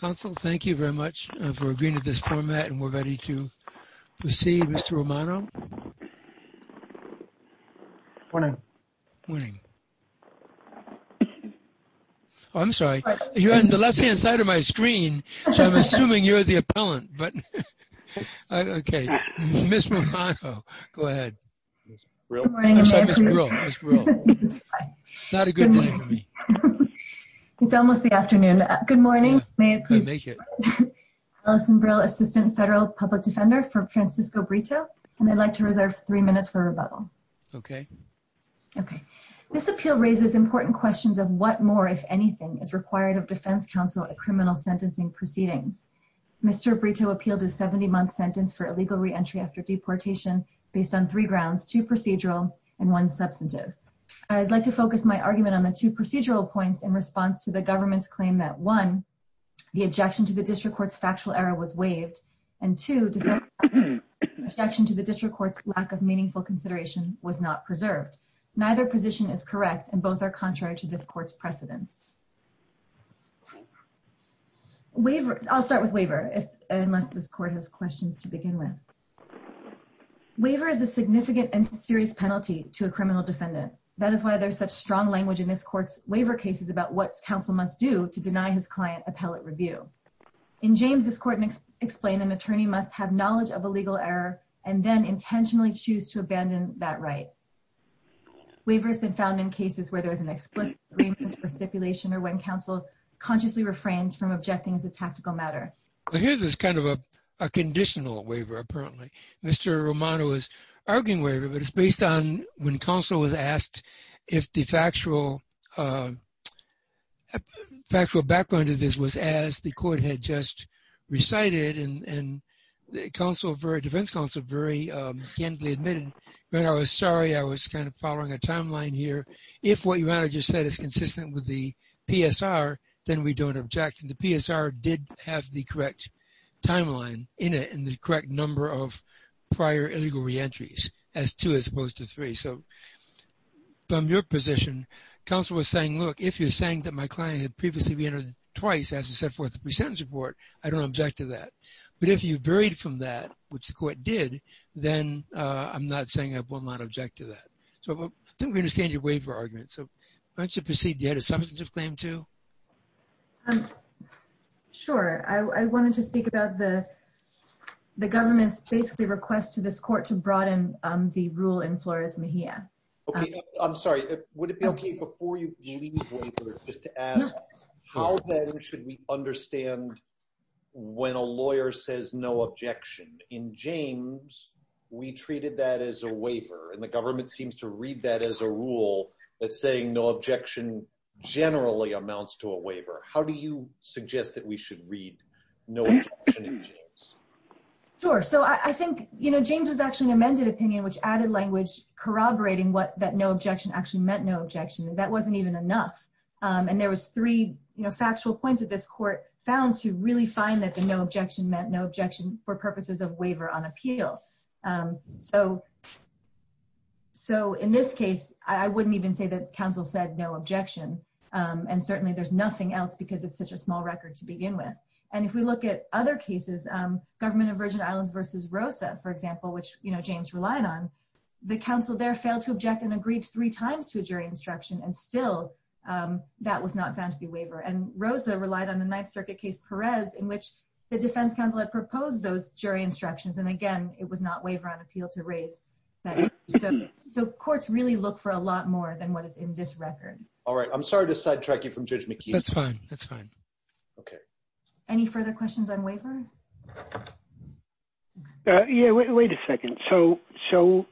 Council, thank you very much for agreeing to this format and we're ready to proceed. Mr. Romano. Morning. Morning. Oh, I'm sorry. You're on the left-hand side of my screen, so I'm assuming you're the appellant, but okay. Ms. Romano, go ahead. Good morning. It's not a good day for me. It's almost the afternoon. Good morning. Allison Brill, Assistant Federal Public Defender for Francisco Brito, and I'd like to reserve three minutes for rebuttal. Okay. Okay. This appeal raises important questions of what more, if anything, is required of Defense Council at criminal sentencing proceedings. Mr. Brito appealed a 70-month sentence for illegal re-entry after deportation based on three grounds, two procedural and one substantive. I'd like to focus my argument on the two procedural points in response to the government's claim that one, the objection to the district court's factual error was waived, and two, the objection to the district court's lack of meaningful consideration was not preserved. Neither position is correct and both are contrary to this court's precedents. I'll start with waiver unless this court has questions to begin with. Waiver is a significant and serious penalty to a criminal defendant. That is why there's such strong language in this court's waiver cases about what counsel must do to deny his client appellate review. In James, this court explained an attorney must have knowledge of a legal error and then intentionally choose to abandon that right. Waiver has been found in cases where there is an explicit agreement for stipulation or when counsel consciously refrains from objecting as a tactical matter. Well, here's this kind of a conditional waiver, apparently. Mr. Romano was arguing waiver, but it's based on when counsel was asked if the factual background of this was as the court had just recited and defense counsel very candidly admitted, I was sorry, I was kind of following a timeline here. If what you just said is consistent with the PSR, then we don't object. The PSR did have the correct timeline in it and the correct number of prior illegal reentries as two as opposed to three. So from your position, counsel was saying, look, if you're saying that my client had previously reentered twice as I set forth the presentence report, I don't object to that. But if you've varied from that, which the court did, then I'm not saying I will not object to that. So I think we understand your waiver argument. So why don't you proceed. You had a Sure, I wanted to speak about the government's basically request to this court to broaden the rule in Flores Mejia. Okay, I'm sorry, would it be okay before you leave waiver just to ask how then should we understand when a lawyer says no objection? In James, we treated that as a waiver and the government seems to read that as a rule that saying no objection generally amounts to a waiver. How do you suggest that we should read? No. Sure. So I think, you know, James was actually an amended opinion, which added language corroborating what that no objection actually meant no objection, that wasn't even enough. And there was three, you know, factual points that this court found to really find that the no objection meant no objection for purposes of waiver on appeal. So, so in this case, I wouldn't even say that counsel said no objection. And certainly there's nothing else because it's such a small record to begin with. And if we look at other cases, government of Virgin Islands versus Rosa, for example, which you know, James relied on, the council there failed to object and agreed three times to a jury instruction and still that was not found to be waiver and Rosa relied on the Ninth Circuit case Perez in which the defense counsel had proposed those jury instructions. And again, it was not waiver on appeal to raise that. So, so courts really look for a lot more than what is in this record. All right. I'm sorry to sidetrack you from Judge McKee. That's fine. That's fine. Okay. Any further questions on waiver? Yeah, wait a second. So, so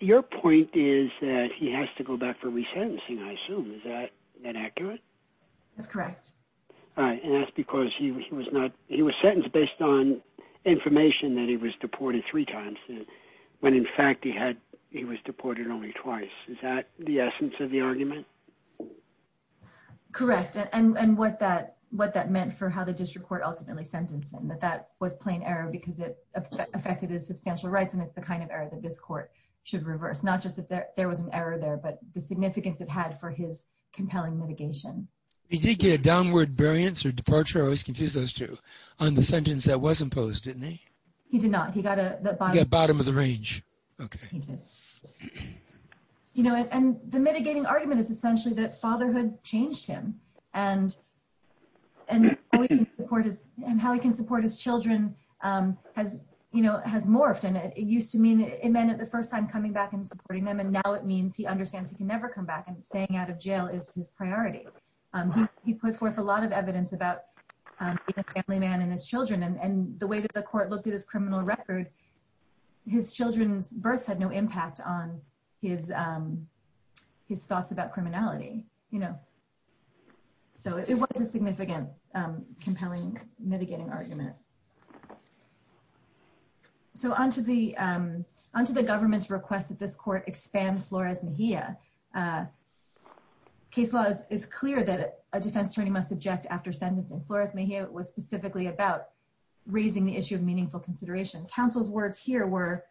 your point is that he has to go back for resentencing. I assume is that accurate? That's correct. All right. And that's because he was not, he was sentenced based on information that he was deported three times when in fact he had, he was deported only twice. Is that the essence of the argument? Correct. And what that, what that meant for how the district court ultimately sentenced him, that that was plain error because it affected his substantial rights. And it's the kind of error that this court should reverse, not just that there was an error there, but the significance it had for his compelling mitigation. He did get a downward variance or departure. I always confuse those two on the sentence that was imposed, didn't he? He did not. He got a bottom of the range. Okay. He did. You know, and the mitigating argument is essentially that fatherhood changed him and, and the court is, and how he can support his children has, you know, has morphed. And it means he understands he can never come back and staying out of jail is his priority. He put forth a lot of evidence about being a family man and his children. And the way that the court looked at his criminal record, his children's births had no impact on his, his thoughts about criminality, you know? So it was a significant compelling mitigating argument. So on to the, on to the government's request that this court expand Flores Mejia. Case law is clear that a defense attorney must object after sentencing. Flores Mejia was specifically about raising the issue of meaningful consideration. Council's words here were,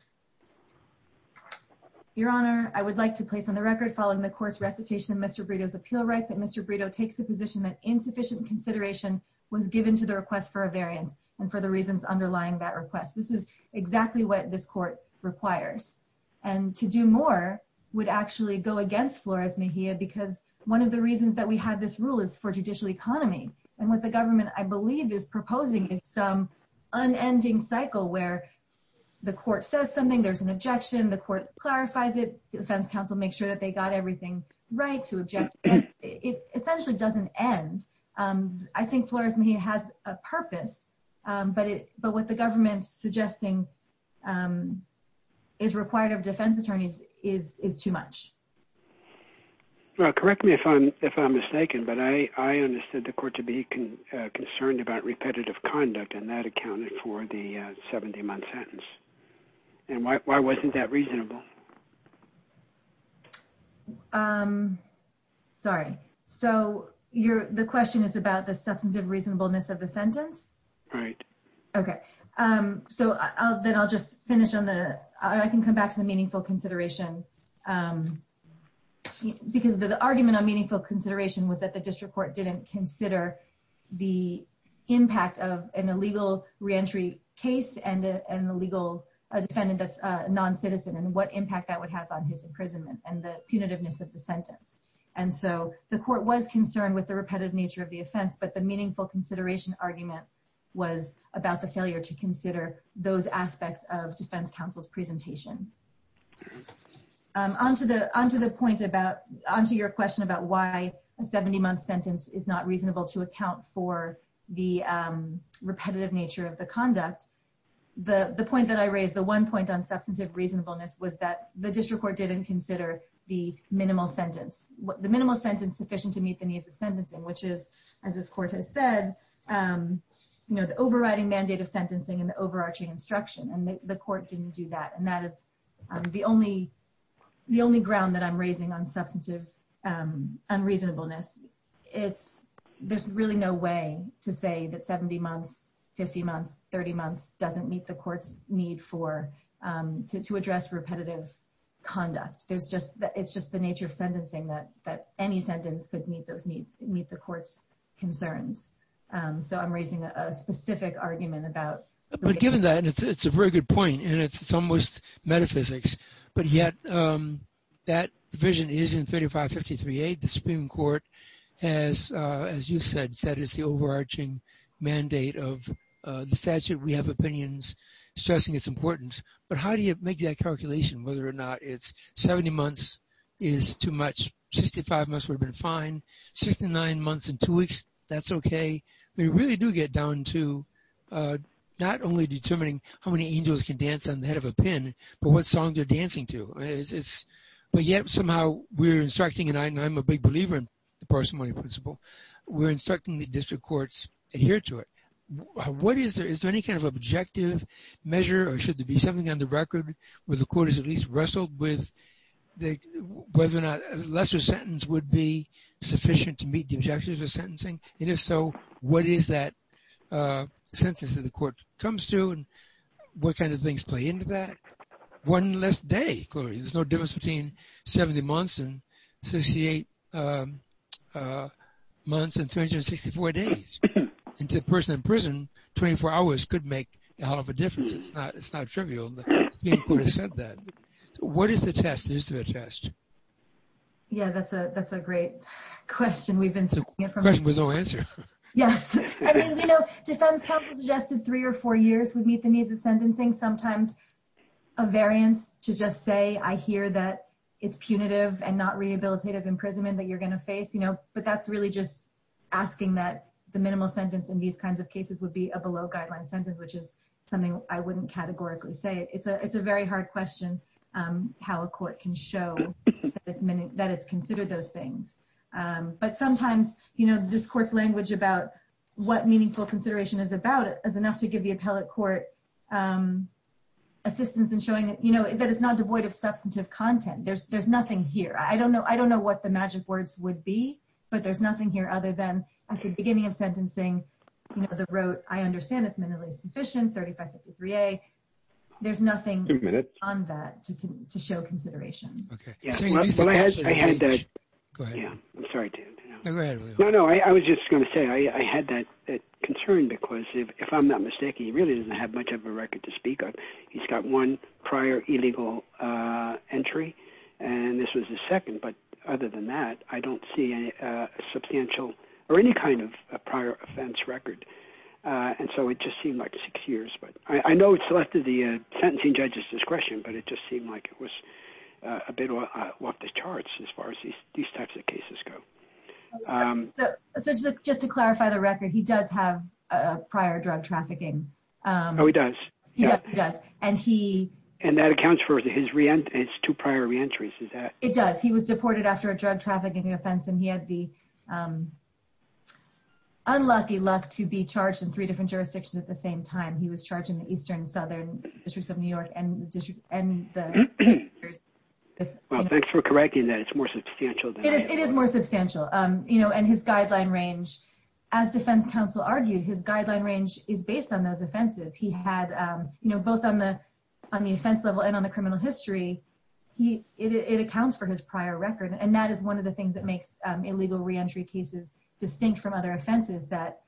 Your Honor, I would like to place on the record following the court's recitation of Mr. Brito's appeal rights that Mr. Brito takes the position that insufficient consideration was given to the request for a variance and for the reasons underlying that request. This is exactly what this court requires. And to do more would actually go against Flores Mejia, because one of the reasons that we have this rule is for judicial economy. And what the government, I believe, is proposing is some unending cycle where the court says something, there's an objection, the court clarifies it, the defense counsel makes sure that they got everything right to object. It essentially doesn't end. I think Flores Mejia has a purpose, but it, but what the government's suggesting is required of defense attorneys is too much. Well, correct me if I'm mistaken, but I understood the court to be concerned about repetitive conduct and that accounted for the 70-month sentence. And why wasn't that reasonable? Sorry. So you're, the question is about the substantive reasonableness of the sentence? Right. Okay. So then I'll just finish on the, I can come back to the meaningful consideration because the argument on meaningful consideration was that the district court didn't consider the impact of an illegal re-entry case and an illegal defendant that's a non-citizen and what impact that would have on his imprisonment and the punitiveness of the sentence. And so the court was concerned with the repetitive nature of the offense, but the meaningful consideration argument was about the failure to consider those aspects of defense counsel's presentation. Onto the point about, onto your question about why a 70-month sentence is not reasonable to account for the repetitive nature of the conduct. The point that I raised, the one on substantive reasonableness was that the district court didn't consider the minimal sentence, the minimal sentence sufficient to meet the needs of sentencing, which is, as this court has said, you know, the overriding mandate of sentencing and the overarching instruction. And the court didn't do that. And that is the only, the only ground that I'm raising on substantive unreasonableness. It's, there's really no way to say that 70 months, 50 months, 30 months doesn't meet the court's need for, to address repetitive conduct. There's just, it's just the nature of sentencing that, that any sentence could meet those needs, meet the court's concerns. So I'm raising a specific argument about- But given that, and it's a very good point, and it's almost metaphysics, but yet that vision is in 3553A, the Supreme Court has, as you've said, said it's the overarching mandate of the statute. We have opinions stressing its importance, but how do you make that calculation, whether or not it's 70 months is too much, 65 months would have been fine, 69 months and two weeks, that's okay. We really do get down to not only determining how many angels can dance on the head of a pin, but what song they're dancing to. It's, but yet somehow we're instructing, and I'm a big believer in the parsimony principle, we're instructing the district courts adhere to it. What is there, is there any kind of objective measure, or should there be something on the record where the court is at least wrestled with the, whether or not a lesser sentence would be sufficient to meet the objectives of sentencing, and if so, what is that sentence that the court comes to, and what kind of things play into that? One less day, clearly, there's no difference between 70 months and 68 months and 264 days, and to a person in prison, 24 hours could make a hell of a difference, it's not trivial, the Supreme Court has said that. What is the test, the history of the test? Yeah, that's a, that's a great question, we've been seeing it from- The question with no answer. Yes, I mean, you know, defense counsel suggested three or four years would meet the needs of sentencing, sometimes a variance to just say, I hear that it's punitive and not rehabilitative imprisonment that you're going to face, you know, but that's really just asking that the minimal sentence in these kinds of cases would be a below-guideline sentence, which is something I wouldn't categorically say. It's a, it's a very hard question, how a court can show that it's, that it's considered those things, but sometimes, you know, this court's language about what meaningful consideration is about is enough to give the appellate court assistance in showing that, you know, that it's not devoid of substantive content, there's, there's nothing here, I don't know, I don't know what the magic words would be, but there's nothing here other than at the beginning of sentencing, you know, the rote, I understand it's minimally sufficient, 3553A, there's nothing on that to show consideration. Yeah, well, I had, I had, yeah, I'm sorry, no, no, I was just going to say I had that concern because if I'm not mistaken, he really doesn't have much of a record to speak of. He's got one prior illegal entry, and this was the second, but other than that, I don't see any substantial or any kind of prior offense record, and so it just seemed like six years, but I know it's left to the sentencing judge's discretion, but it just seemed like it was a bit off the charts as far as these types of cases go. So just to clarify the record, he does have a prior drug trafficking. Oh, he does? Yeah, he does, and he... And that accounts for his re-entry, it's two prior re-entries, is that... It does, he was deported after a drug trafficking offense, and he had the unlucky luck to be charged in three different jurisdictions at the same time. He was charged in the Eastern and Southern Districts of New York and the... Well, thanks for correcting that, it's more substantial than that. It is more substantial, you know, and his guideline range, as defense counsel argued, his guideline range is based on those offenses. He had, you know, both on the offense level and on the criminal history, he, it accounts for his prior record, and that is one of the things that distinct from other offenses that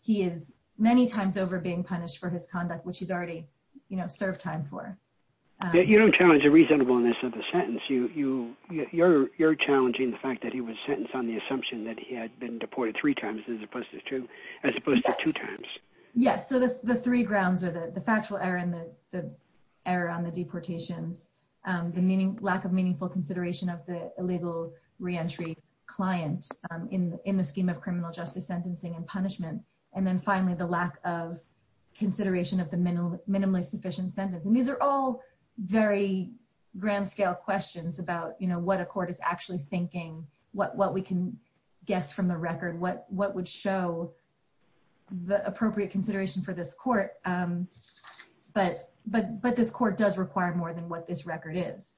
he is many times over being punished for his conduct, which he's already served time for. You don't challenge the reasonableness of the sentence, you're challenging the fact that he was sentenced on the assumption that he had been deported three times as opposed to two times. Yes, so the three grounds are the factual error and the error on the deportations, the lack of meaningful consideration of the illegal re-entry client in the scheme of criminal justice sentencing and punishment, and then finally, the lack of consideration of the minimally sufficient sentence. And these are all very grand scale questions about, you know, what a court is actually thinking, what we can guess from the record, what would show the appropriate consideration for this court, but this court does require more than what this record is.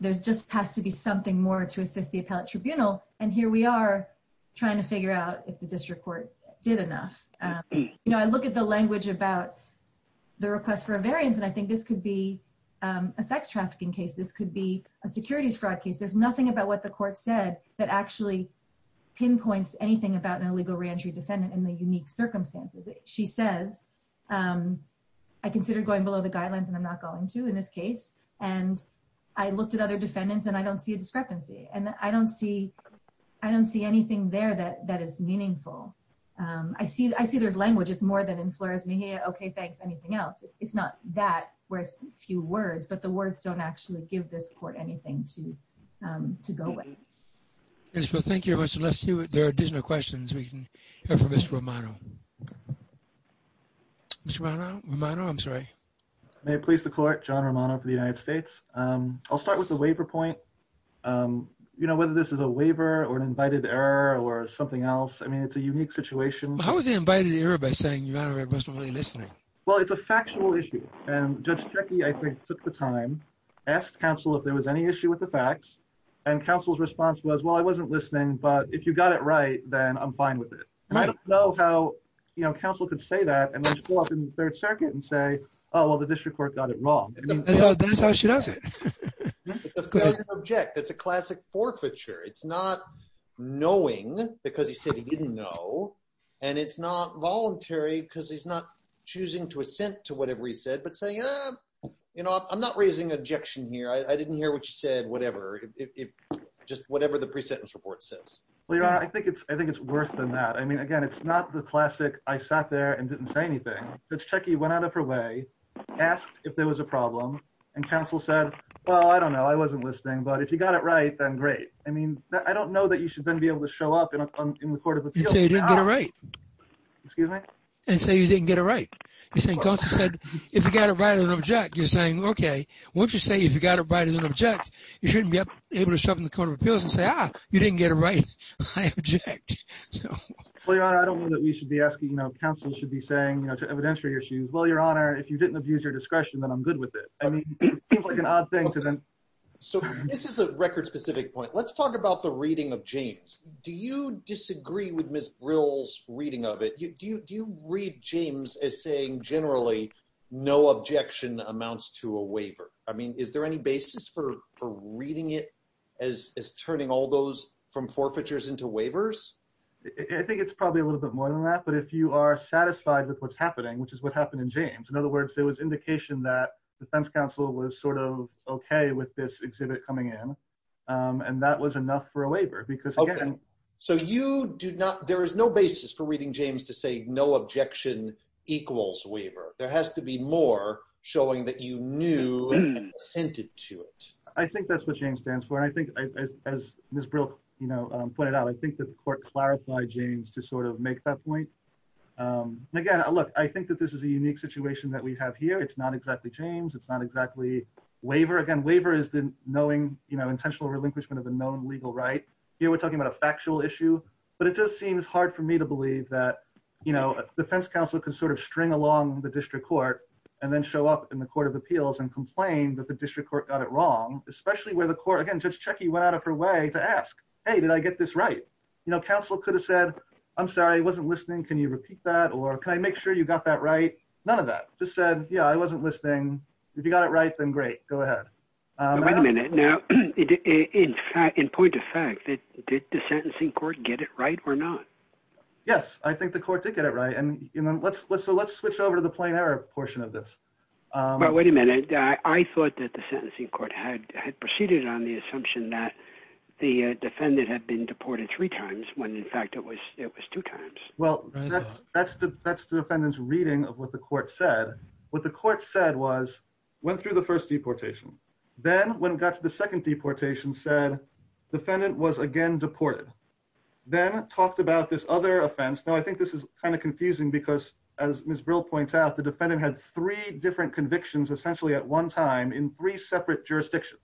There just has to be something more to assist the appellate tribunal, and here we are trying to figure out if the district court did enough. You know, I look at the language about the request for a variance, and I think this could be a sex trafficking case, this could be a securities fraud case, there's nothing about what the court said that actually pinpoints anything about an illegal re-entry defendant and the unique circumstances. She says, I consider going below the guidelines, and I'm not going to in this case, and I looked at other defendants, and I don't see a discrepancy, and I don't see anything there that is meaningful. I see there's language, it's more than in Flores, Mejia, okay, thanks, anything else. It's not that, where it's a few words, but the words don't actually give this court anything to go with. Yes, well, thank you very much, and let's see if there are additional questions we can hear from Mr. Romano. Mr. Romano, I'm sorry. May it please the court, John Romano for the United States. I'll start with the waiver point. You know, whether this is a waiver, or an invited error, or something else, I mean, it's a unique situation. How is it invited error by saying you're not really listening? Well, it's a factual issue, and Judge Cechi, I think, took the time, asked counsel if there was any issue with the facts, and counsel's response was, well, I wasn't listening, but if you got it right, then I'm fine with it. I don't know how, you know, counsel could say that, and then show up in the third circuit, and say, oh, well, the district court got it wrong. That's how she does it. Object, that's a classic forfeiture. It's not knowing, because he said he didn't know, and it's not voluntary, because he's not choosing to assent to whatever he said, but saying, you know, I'm not raising objection here. I didn't hear what you said, whatever, just whatever the pre-sentence report says. Well, Your Honor, I think it's worse than that. I mean, again, it's not the classic, I sat there and didn't say anything. Judge Cechi went out of her way, asked if there was a problem, and counsel said, well, I don't know, I wasn't listening, but if you got it right, then great. I mean, I don't know that you should then be able to show up in the court of appeals. And say you didn't get it right. Excuse me? And say you didn't get it right. You're saying, counsel said, if you got it right as an object, you're saying, okay, won't you say, if you got it right as an object, you shouldn't be able to show up in the court of appeals and say, ah, you didn't get it right. I object. Well, Your Honor, I don't know that we should be asking, you know, counsel should be saying, you know, evidentiary issues. Well, Your Honor, if you didn't abuse your discretion, then I'm good with it. I mean, it seems like an odd thing to them. So this is a record specific point. Let's talk about the reading of James. Do you disagree with Ms. Brill's reading of it? Do you read James as saying generally, no objection amounts to a waiver? I mean, is there any basis for reading it as turning all those from forfeitures into waivers? I think it's probably a little bit more than that. But if you are satisfied with what's happening, which is what happened in James, in other words, there was indication that the defense counsel was sort of okay with this exhibit coming in. And that was enough for a waiver. So you do not, there is no basis for reading James to say no objection equals waiver. There has to be more showing that you knew and assented to it. I think that's what James stands for. And I think, as Ms. Brill, you know, pointed out, I think that the court clarified James to sort of make that point. Again, look, I think that this is a unique situation that we have here. It's not exactly James. It's not exactly waiver. Again, waiver is the knowing, you know, intentional relinquishment of a known legal right. Here, we're talking about a factual issue. But it just seems hard for me to defense counsel to sort of string along the district court and then show up in the Court of Appeals and complain that the district court got it wrong, especially where the court, again, Judge Checki went out of her way to ask, hey, did I get this right? You know, counsel could have said, I'm sorry, I wasn't listening. Can you repeat that? Or can I make sure you got that right? None of that. Just said, yeah, I wasn't listening. If you got it right, then great. Go ahead. Wait a minute. Now, in fact, in point of fact, did the sentencing court get it right or not? Yes, I think the court did get it right. And, you know, let's let's let's switch over to the plain error portion of this. But wait a minute. I thought that the sentencing court had had proceeded on the assumption that the defendant had been deported three times when, in fact, it was it was two times. Well, that's the that's the defendant's reading of what the court said. What the court said was went through the first deportation. Then when it got to the second deportation, said defendant was again deported, then talked about this other offense. Now, I think this is kind of confusing because, as Ms. Brill points out, the defendant had three different convictions essentially at one time in three separate jurisdictions.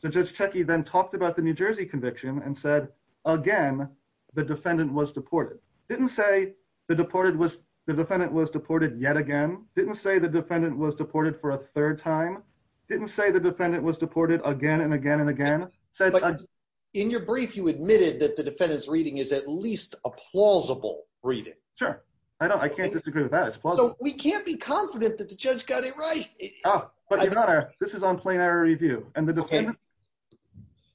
So Judge Checky then talked about the New Jersey conviction and said, again, the defendant was deported. Didn't say the deported was the defendant was deported yet again. Didn't say the defendant was deported for a third time. Didn't say the defendant was deported again and again and again. In your brief, you admitted that the defendant's reading is at least a plausible reading. Sure. I know. I can't disagree with that. We can't be confident that the judge got it right. This is on plain error review and the defendant.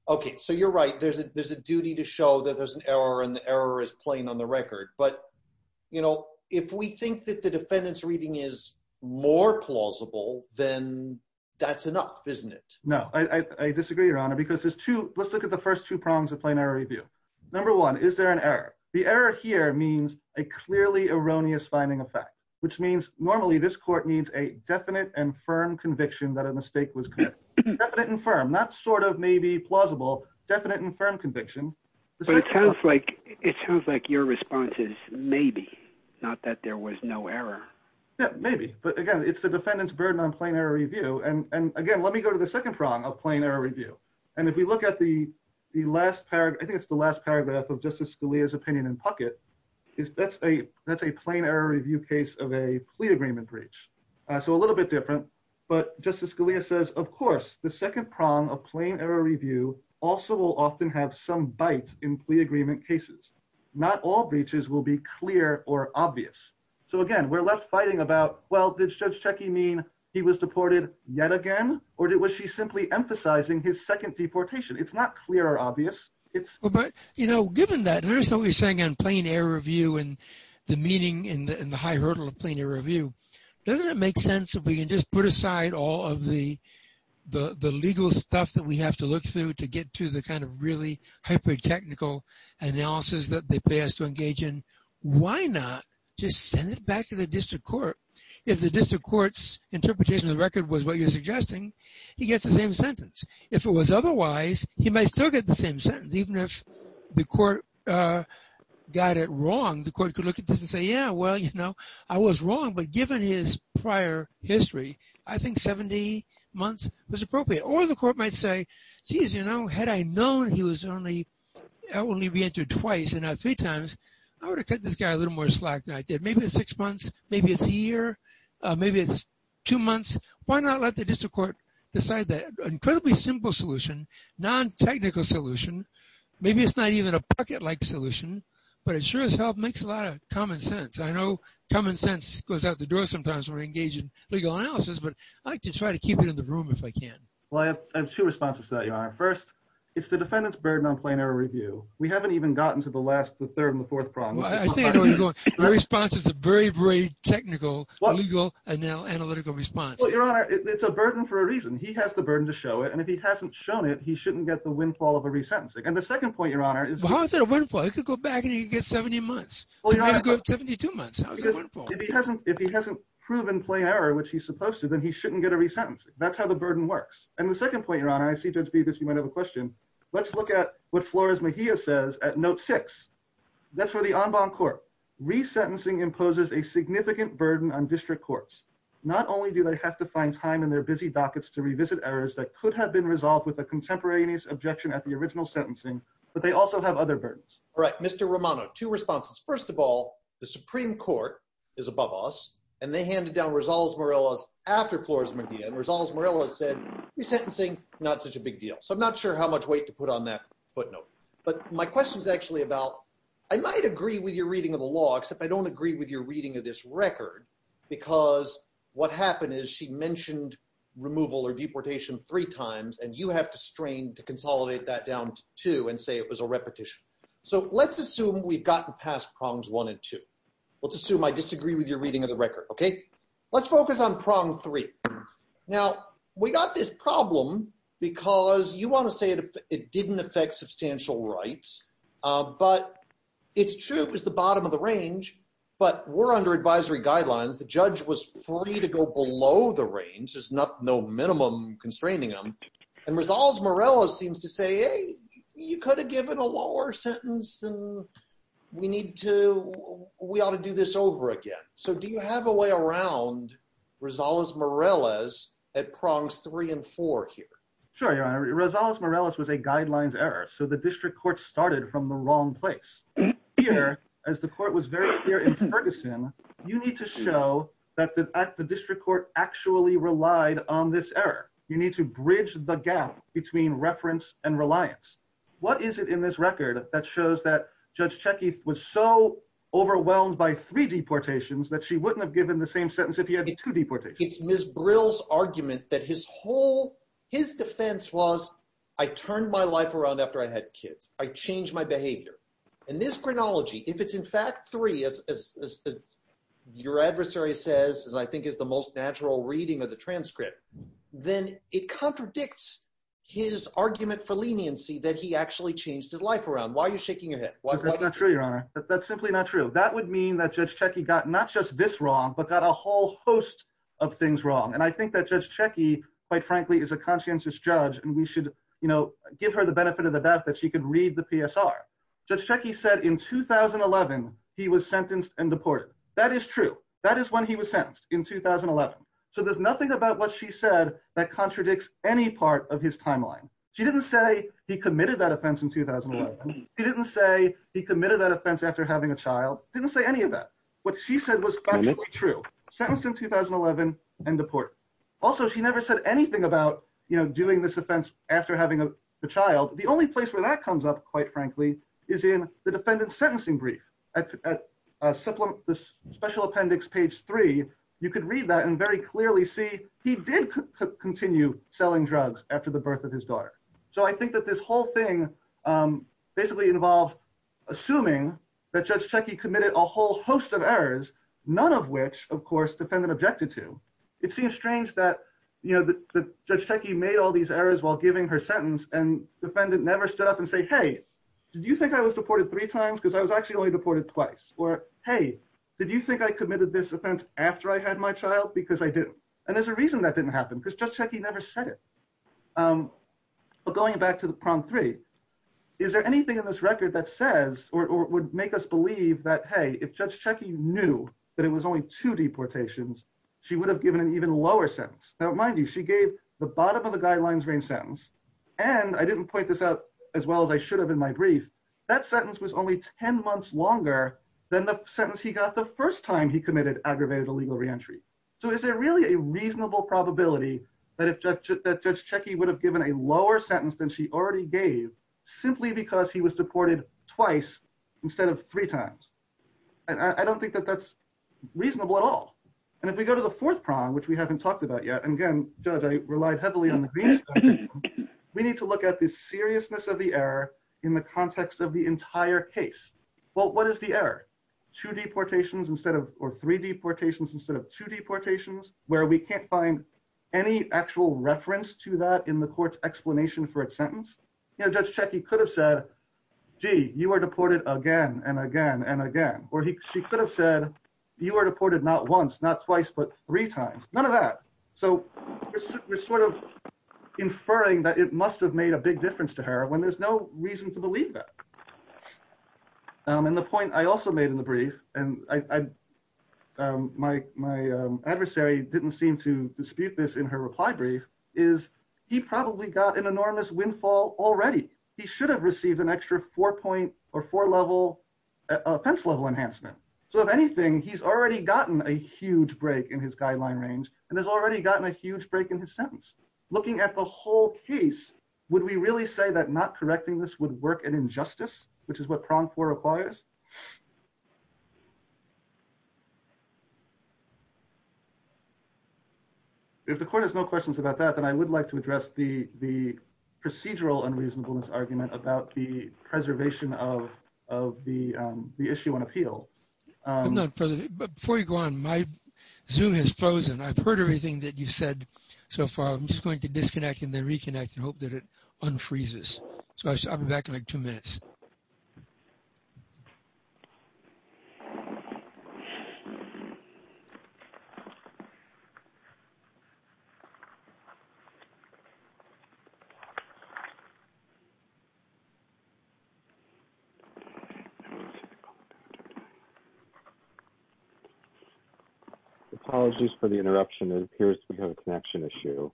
OK, so you're right. There's a there's a duty to show that there's an error and the error is on the record. But, you know, if we think that the defendant's reading is more plausible, then that's enough, isn't it? No, I disagree, Your Honor, because there's two. Let's look at the first two prongs of plain error review. Number one, is there an error? The error here means a clearly erroneous finding effect, which means normally this court needs a definite and firm conviction that a mistake was definite and firm, not sort of maybe plausible, definite and firm conviction. But it sounds like it sounds like your response is maybe not that there was no error. Yeah, maybe. But again, it's the defendant's burden on plain error review. And again, let me go to the second prong of plain error review. And if we look at the last part, I think it's the last paragraph of Justice Scalia's opinion in Puckett, is that's a that's a plain error review case of a plea agreement breach. So a little bit different. But Justice Scalia says, of course, the second prong of plain error review also will often have some bite in plea agreement cases. Not all breaches will be clear or obvious. So again, we're left fighting about, well, did Judge Cechi mean he was deported yet again? Or was she simply emphasizing his second deportation? It's not clear or obvious. It's but you know, given that there's always saying on plain error review and the meaning in the high hurdle of plain error review, doesn't it make sense if we can just put aside all of the legal stuff that we have to look through to get to the kind of really hyper technical analysis that they pay us to engage in? Why not just send it back to the district court? If the district court's interpretation of the record was what you're suggesting, he gets the same sentence. If it was otherwise, he might still get the same sentence. Even if the court got it wrong, the court could look at this and say, yeah, well, I was wrong. But given his prior history, I think 70 months was appropriate. Or the court might say, geez, had I known he was only re-entered twice and not three times, I would have cut this guy a little more slack than I did. Maybe it's six months. Maybe it's a year. Maybe it's two months. Why not let the district court decide that? Incredibly simple solution, non-technical solution. Maybe it's not even a bucket-like solution. But it sure as hell makes a lot of sense. I know common sense goes out the door sometimes when I engage in legal analysis. But I like to try to keep it in the room if I can. Well, I have two responses to that, Your Honor. First, it's the defendant's burden on plain error review. We haven't even gotten to the last, the third, and the fourth problem. The response is a very, very technical, legal, and now analytical response. Well, Your Honor, it's a burden for a reason. He has the burden to show it. And if he hasn't shown it, he shouldn't get the windfall of a re-sentencing. And the second point, Your Honor, How is that a windfall? He could go back and he could get 70 months. He could get 72 months. If he hasn't proven plain error, which he's supposed to, then he shouldn't get a re-sentencing. That's how the burden works. And the second point, Your Honor, I see, Judge Bevis, you might have a question. Let's look at what Flores-Mejia says at note six. That's for the en banc court. Re-sentencing imposes a significant burden on district courts. Not only do they have to find time in their busy dockets to revisit errors that could have been resolved with a contemporaneous objection at the original sentencing, but they also have other burdens. All right, Mr. Romano, two responses. First of all, the Supreme Court is above us, and they handed down Rosales-Morelas after Flores-Mejia. And Rosales-Morelas said, re-sentencing, not such a big deal. So I'm not sure how much weight to put on that footnote. But my question is actually about, I might agree with your reading of the law, except I don't agree with your reading of this record, because what happened is she mentioned removal or deportation three times, and you have to strain to consolidate that down to two and say it was a repetition. So let's assume we've gotten past prongs one and two. Let's assume I disagree with your reading of the record, okay? Let's focus on prong three. Now, we got this problem because you want to say it didn't affect substantial rights, but it's true it was the bottom of the range, but we're under advisory guidelines. The judge was free to go below the range. There's no minimum constraining them. And Rosales-Morelas seems to say, hey, you could have given a lower sentence, and we need to, we ought to do this over again. So do you have a way around Rosales-Morelas at prongs three and four here? Sure, Your Honor. Rosales-Morelas was a guidelines error. So the district court started from the wrong place. Here, as the court was very clear in Ferguson, you need to show that the district court actually relied on this error. You need to bridge the gap between reference and reliance. What is it in this record that shows that Judge Cechi was so overwhelmed by three deportations that she wouldn't have given the same sentence if he had two deportations? It's Ms. Brill's argument that his defense was, I turned my life around after I had kids. I changed my behavior. In this chronology, if it's in fact three, as your adversary says, as I think is the most natural reading of the transcript, then it contradicts his argument for leniency that he actually changed his life around. Why are you shaking your head? That's not true, Your Honor. That's simply not true. That would mean that Judge Cechi got not just this wrong, but got a whole host of things wrong. I think that Judge Cechi, quite frankly, is a conscientious judge. We should give her the benefit of the doubt that she could read the PSR. Judge Cechi said in 2011, he was sentenced and deported. That is true. That is when he was sentenced, in 2011. So there's nothing about what she said that contradicts any part of his timeline. She didn't say he committed that offense in 2011. She didn't say he committed that offense after having a child. Didn't say any of that. What she said was actually true. Sentenced in 2011 and deported. Also, she never said anything about, you know, doing this offense after having a child. The only place where that comes up, quite frankly, is in the defendant's sentencing brief. At Special Appendix, page three, you could read that and very clearly see he did continue selling drugs after the birth of his daughter. So I think that this whole thing basically involves assuming that Judge Cechi committed a host of errors, none of which, of course, the defendant objected to. It seems strange that Judge Cechi made all these errors while giving her sentence and the defendant never stood up and said, hey, did you think I was deported three times? Because I was actually only deported twice. Or, hey, did you think I committed this offense after I had my child? Because I didn't. And there's a reason that didn't happen. Because Judge Cechi never said it. But going back to prompt three, is there anything in this record that says or would make us believe that, hey, if Judge Cechi knew that it was only two deportations, she would have given an even lower sentence? Now, mind you, she gave the bottom of the guidelines range sentence. And I didn't point this out as well as I should have in my brief. That sentence was only 10 months longer than the sentence he got the first time he committed aggravated illegal reentry. So is there really a reasonable probability that if Judge Cechi would have given a lower sentence than she already gave simply because he was deported twice instead of three times? I don't think that that's reasonable at all. And if we go to the fourth prong, which we haven't talked about yet, and again, Judge, I relied heavily on the green screen, we need to look at the seriousness of the error in the context of the entire case. Well, what is the error? Two deportations instead of or three deportations instead of two deportations, where we can't find any actual reference to that in the court's explanation for its sentence. Judge Cechi could have said, gee, you were deported again and again and again. Or she could have said, you were deported not once, not twice, but three times. None of that. So we're sort of inferring that it must have made a big difference to her when there's no reason to believe that. And the point I also made in the is he probably got an enormous windfall already. He should have received an extra four-point or four-level offense-level enhancement. So if anything, he's already gotten a huge break in his guideline range and has already gotten a huge break in his sentence. Looking at the whole case, would we really say that not correcting this would work an injustice, which is what prong four requires? If the court has no questions about that, then I would like to address the procedural unreasonableness argument about the preservation of the issue on appeal. Before you go on, my Zoom has frozen. I've heard everything that you've said so far. I'm just going to disconnect and then reconnect and hope that it unfreezes. So I'll be back in like two minutes. Okay. Apologies for the interruption. It appears we have a connection issue.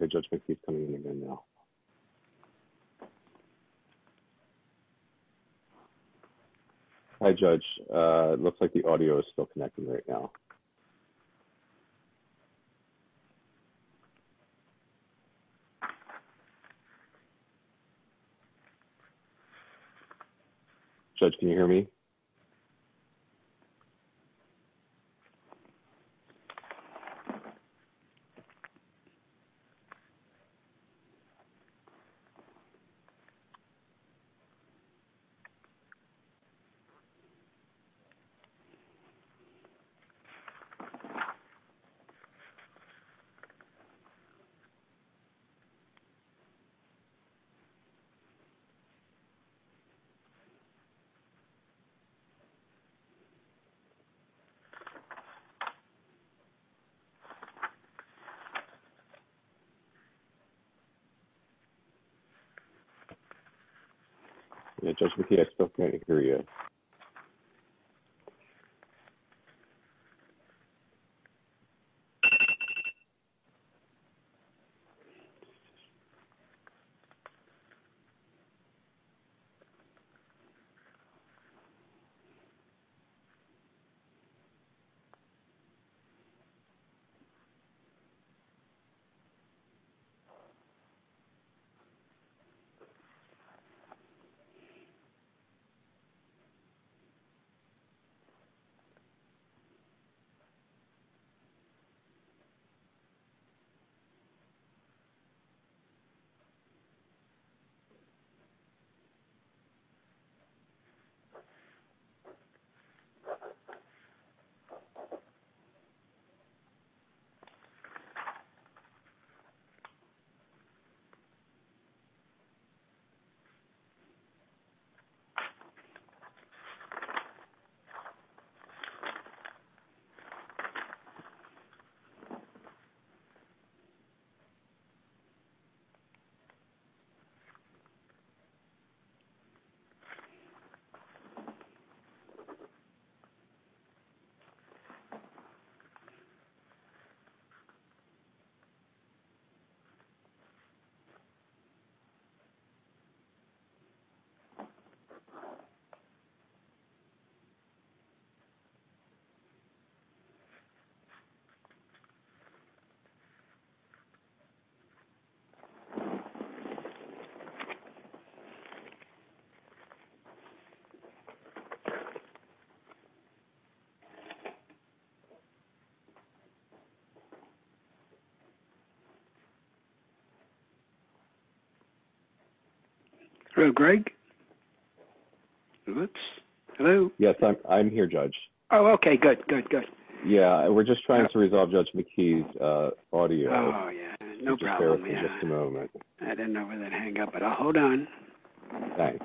Okay. Judge McKee is coming in again now. Hi, Judge. It looks like the audio is still connecting right now. Judge, can you hear me? Okay. So Judge McKee, I still can't hear you. Okay. Hello, Greg. Oops. Hello. Yes, I'm here, Judge. Oh, okay. Good, good, good. Yeah, we're just trying to resolve Judge McKee's audio. Oh, yeah, no problem. I didn't know where that hung up, but I'll hold on. Thanks.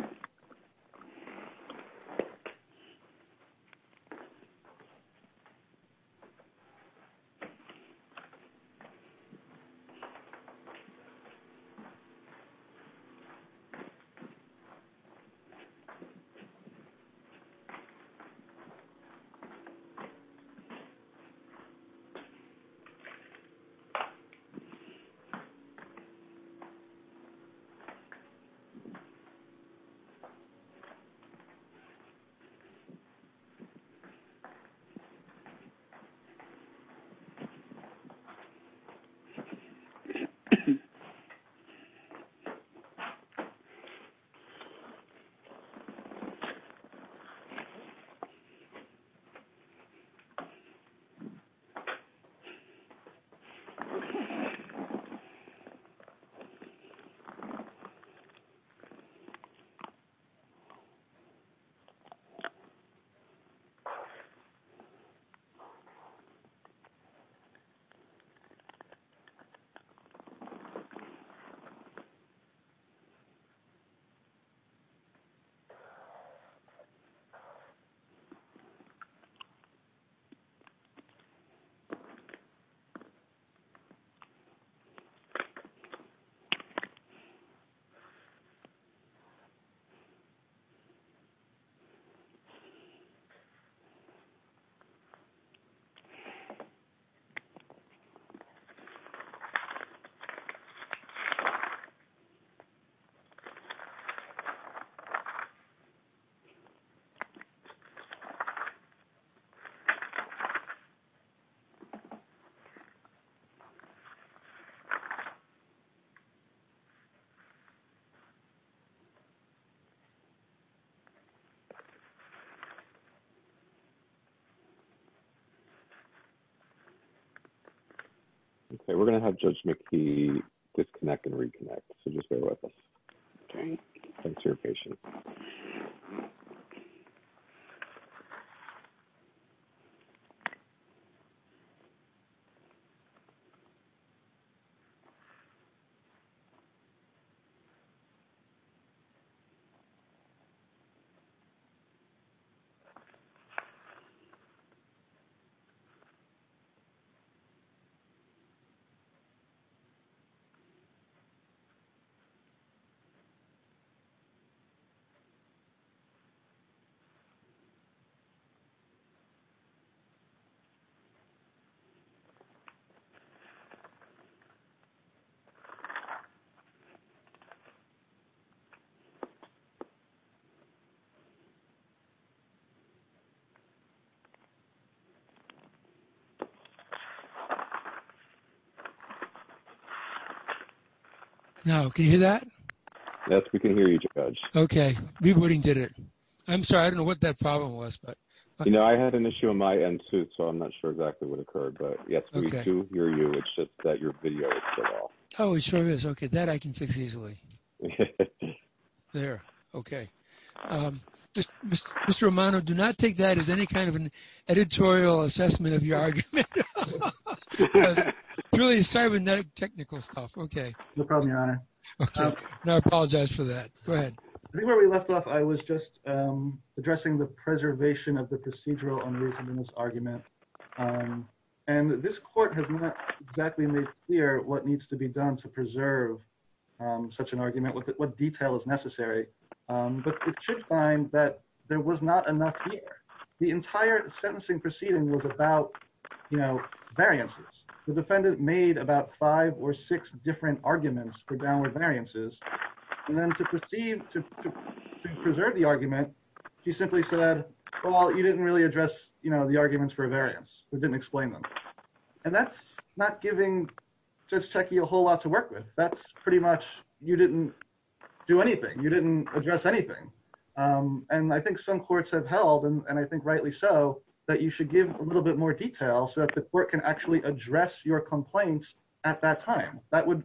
Okay. Okay, we're going to have Judge McKee disconnect and reconnect, so just bear with us. Okay. Thanks for your patience. Okay. Okay. Now, can you hear that? Yes, we can hear you, Judge. Okay. We wouldn't get it. I'm sorry. I don't know what that problem was, but... I had an issue on my end, too, so I'm not sure exactly what occurred, but yes, we do hear you. It's just that your video is cut off. Oh, it sure is. Okay, that I can fix easily. There, okay. Mr. Romano, do not take that as any kind of an editorial assessment of your argument. It's really cybernetic technical stuff. Okay. No problem, Your Honor. Okay, now I apologize for that. Go ahead. I think where we left off, I was just addressing the preservation of the procedural unreasonable argument, and this court has not exactly made clear what needs to be done to preserve such an argument, what detail is necessary, but it should find that there was not enough here. The entire sentencing proceeding was about variances. The defendant made about five or six different arguments for downward variances, and then to preserve the argument, she simply said, well, you didn't really address the arguments for variance. We didn't explain them, and that's not giving Judge Cechi a whole lot to work with. That's pretty much you didn't do anything. You didn't address anything, and I think some courts have held, and I think rightly so, that you should give a little bit more detail so that the court can actually address your complaints at that time. That would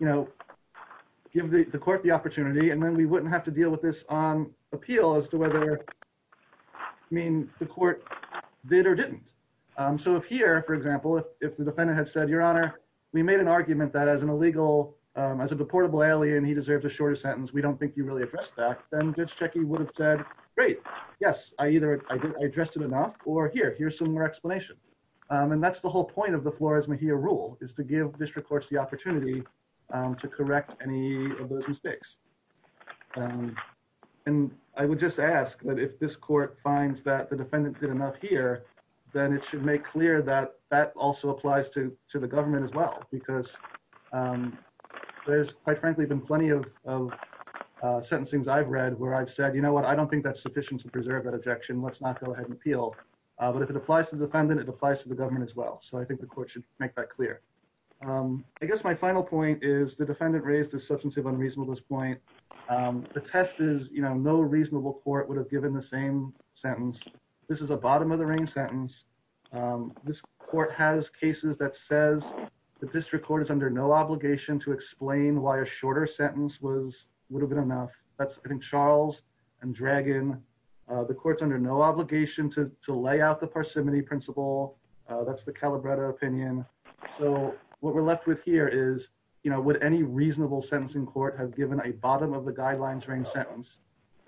give the court the opportunity, and then we wouldn't have to deal with this on appeal as to whether, I mean, the court did or didn't. So if here, for example, if the defendant had said, Your Honor, we made an argument that as a deportable alien, he deserves a shorter sentence, we don't think you really addressed that, then Judge Cechi would have said, great, yes, I addressed it enough, or here, here's some more explanation, and that's the whole point of the Flores-Mejia rule, is to give district courts the opportunity to correct any of those mistakes. And I would just ask that if this court finds that the defendant did enough here, then it should make clear that that also applies to the government as well, because there's, quite frankly, been plenty of sentencings I've read where I've said, You know what? I don't think that's sufficient to preserve that objection. Let's not go ahead and appeal. But if it applies to the defendant, it applies to the government as well. So I think the court should make that clear. I guess my final point is the defendant raised a substantive unreasonableness point. The test is, you know, no reasonable court would have given the same sentence. This is a bottom-of-the-ring sentence. This court has cases that says the district court is under no obligation to explain why a shorter sentence would have been enough. That's, I think, Charles and Dragon. The court's under no obligation to lay out the parsimony principle. That's the Calabretta opinion. So what we're left with here is, you know, would any reasonable sentencing court have given a bottom-of-the-guidelines-ring sentence,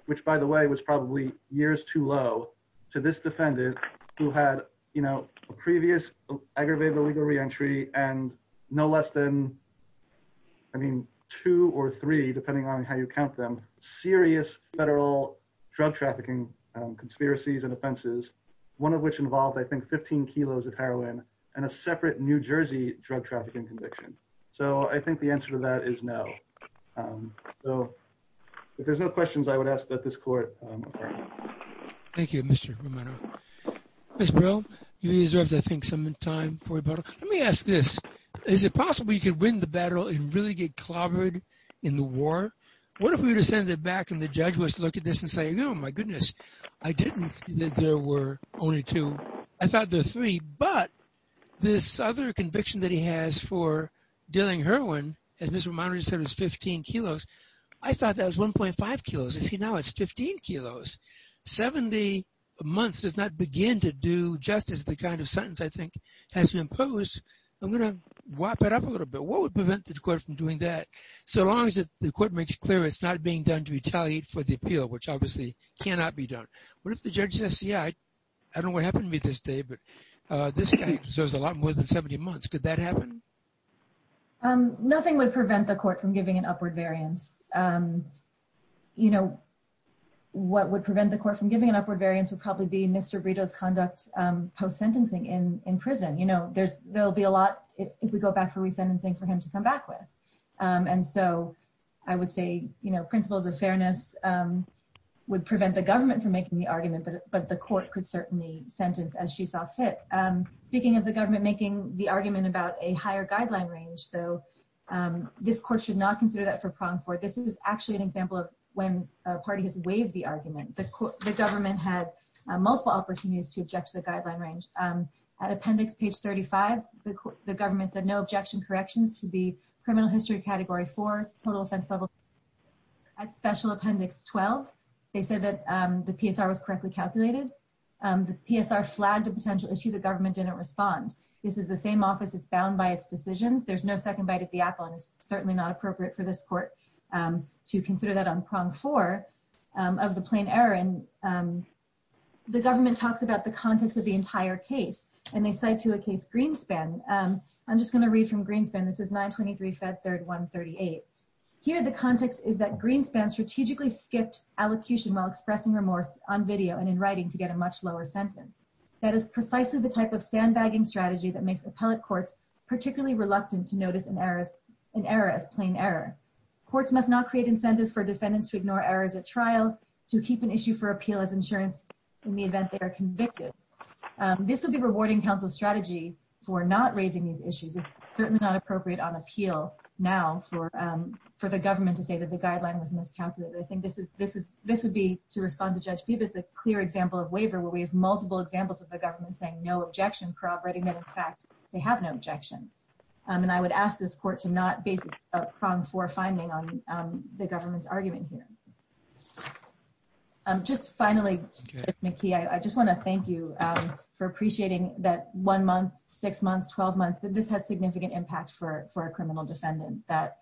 which, by the way, was probably years too low, to this defendant who had, you know, a previous aggravated illegal reentry and no less than, I mean, two or three, depending on how you count them, serious federal drug trafficking conspiracies and offenses, one of which involved, I think, 15 kilos of heroin and a separate New Jersey drug trafficking conviction. So I think the answer to that is no. So if there's no questions, I would ask that this court affirm. Thank you, Mr. Romano. Ms. Brill, you deserved, I think, some time for rebuttal. Let me ask this. Is it possible you could win the battle and really get clobbered in the war? What if we were to send it back and the judge was to look at this and say, oh, my goodness, I didn't think there were only two. I thought there were three. But this other conviction that he has for dealing heroin, as Mr. Romano said, was 15 kilos. I thought that was 1.5 kilos. You see, now it's 15 kilos. 70 months does not begin to do justice to the kind of sentence I think has been imposed. I'm going to wrap it up a little bit. What would prevent the court from doing that? So long as the court makes clear it's not being done to retaliate for the appeal, which obviously cannot be done. What if the judge says, yeah, I don't know what happened to me this day, but this guy deserves a lot more than 70 months. Could that happen? Nothing would prevent the court from giving an upward variance. What would prevent the court from giving an upward variance would probably be Mr. Brito's conduct post-sentencing in prison. There'll be a lot, if we go back for resentencing, for him to come back with. And so I would say principles of fairness would prevent the government from making the argument. But the court could certainly sentence as she saw fit. Speaking of the government making the argument about a higher guideline range, though, this court should not consider that for pronged court. This is actually an example of when a party has waived the argument. The government had multiple opportunities to object to the guideline range. At appendix page 35, the government said no objection corrections to the criminal history category four total offense level at special appendix 12. They said that the PSR was correctly calculated. The PSR flagged a potential issue. The government didn't respond. This is the same office. It's bound by its decisions. There's no second bite at the apple, and it's certainly not appropriate for this court to consider that on prong four of the plain error. And the government talks about the context of the entire case, and they cite to a case Greenspan. I'm just going to read from Greenspan. This is 923 Fed Third 138. Here the context is that Greenspan strategically skipped allocution while expressing remorse on video and in writing to get a much lower sentence. That is precisely the type of sandbagging strategy that makes appellate courts particularly reluctant to notice an error as plain error. Courts must not create incentives for defendants to ignore errors at trial, to keep an issue for appeal as insurance in the event they are convicted. This would be rewarding counsel strategy for not raising these issues. It's certainly not appropriate on appeal now for the government to say that the guideline was miscalculated. I think this would be, to respond to Judge Bibas, a clear example of waiver where we have multiple examples of the government saying no objection, corroborating that, in fact, they have no objection. And I would ask this court to not base a prong four finding on the government's argument here. Just finally, Judge McKee, I just want to thank you for appreciating that one month, six months, 12 months, that this has significant impact for a criminal defendant, that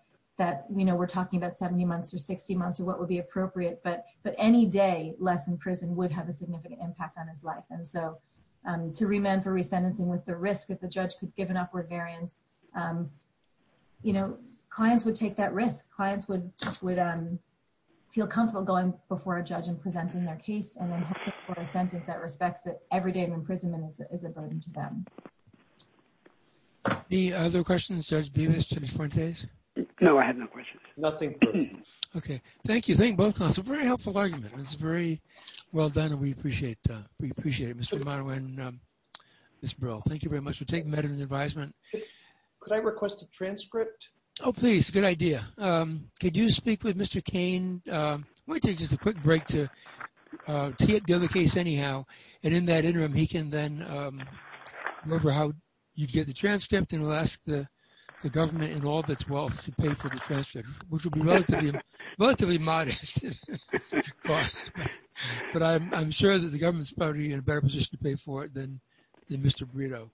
we're talking about 70 months or 60 months or what would be appropriate, but any day less in prison would have a significant impact on his life. And so to remand for resentencing with the risk that the judge could give an upward variance, clients would take that risk. Clients would feel comfortable going before a judge and presenting their case and then hoping for a sentence that respects that every day of imprisonment is a burden to them. Any other questions, Judge Bibas, Judge Fuentes? No, I have no questions. Nothing. Okay. Thank you. Thank you both. It's a very helpful argument. It's very well done and we appreciate it, Mr. Romano and Ms. Brill. Thank you very much for taking that in your advisement. Could I request a transcript? Oh, please. Good idea. Could you speak with Mr. Kane? I want to take just a quick break to deal with the case anyhow. And in that interim, he can then remember how you get the transcript and will ask the government in all of its wealth to pay for the transcript, which will be relatively modest. But I'm sure that the government's probably in a better position to pay for it than Mr. Brito.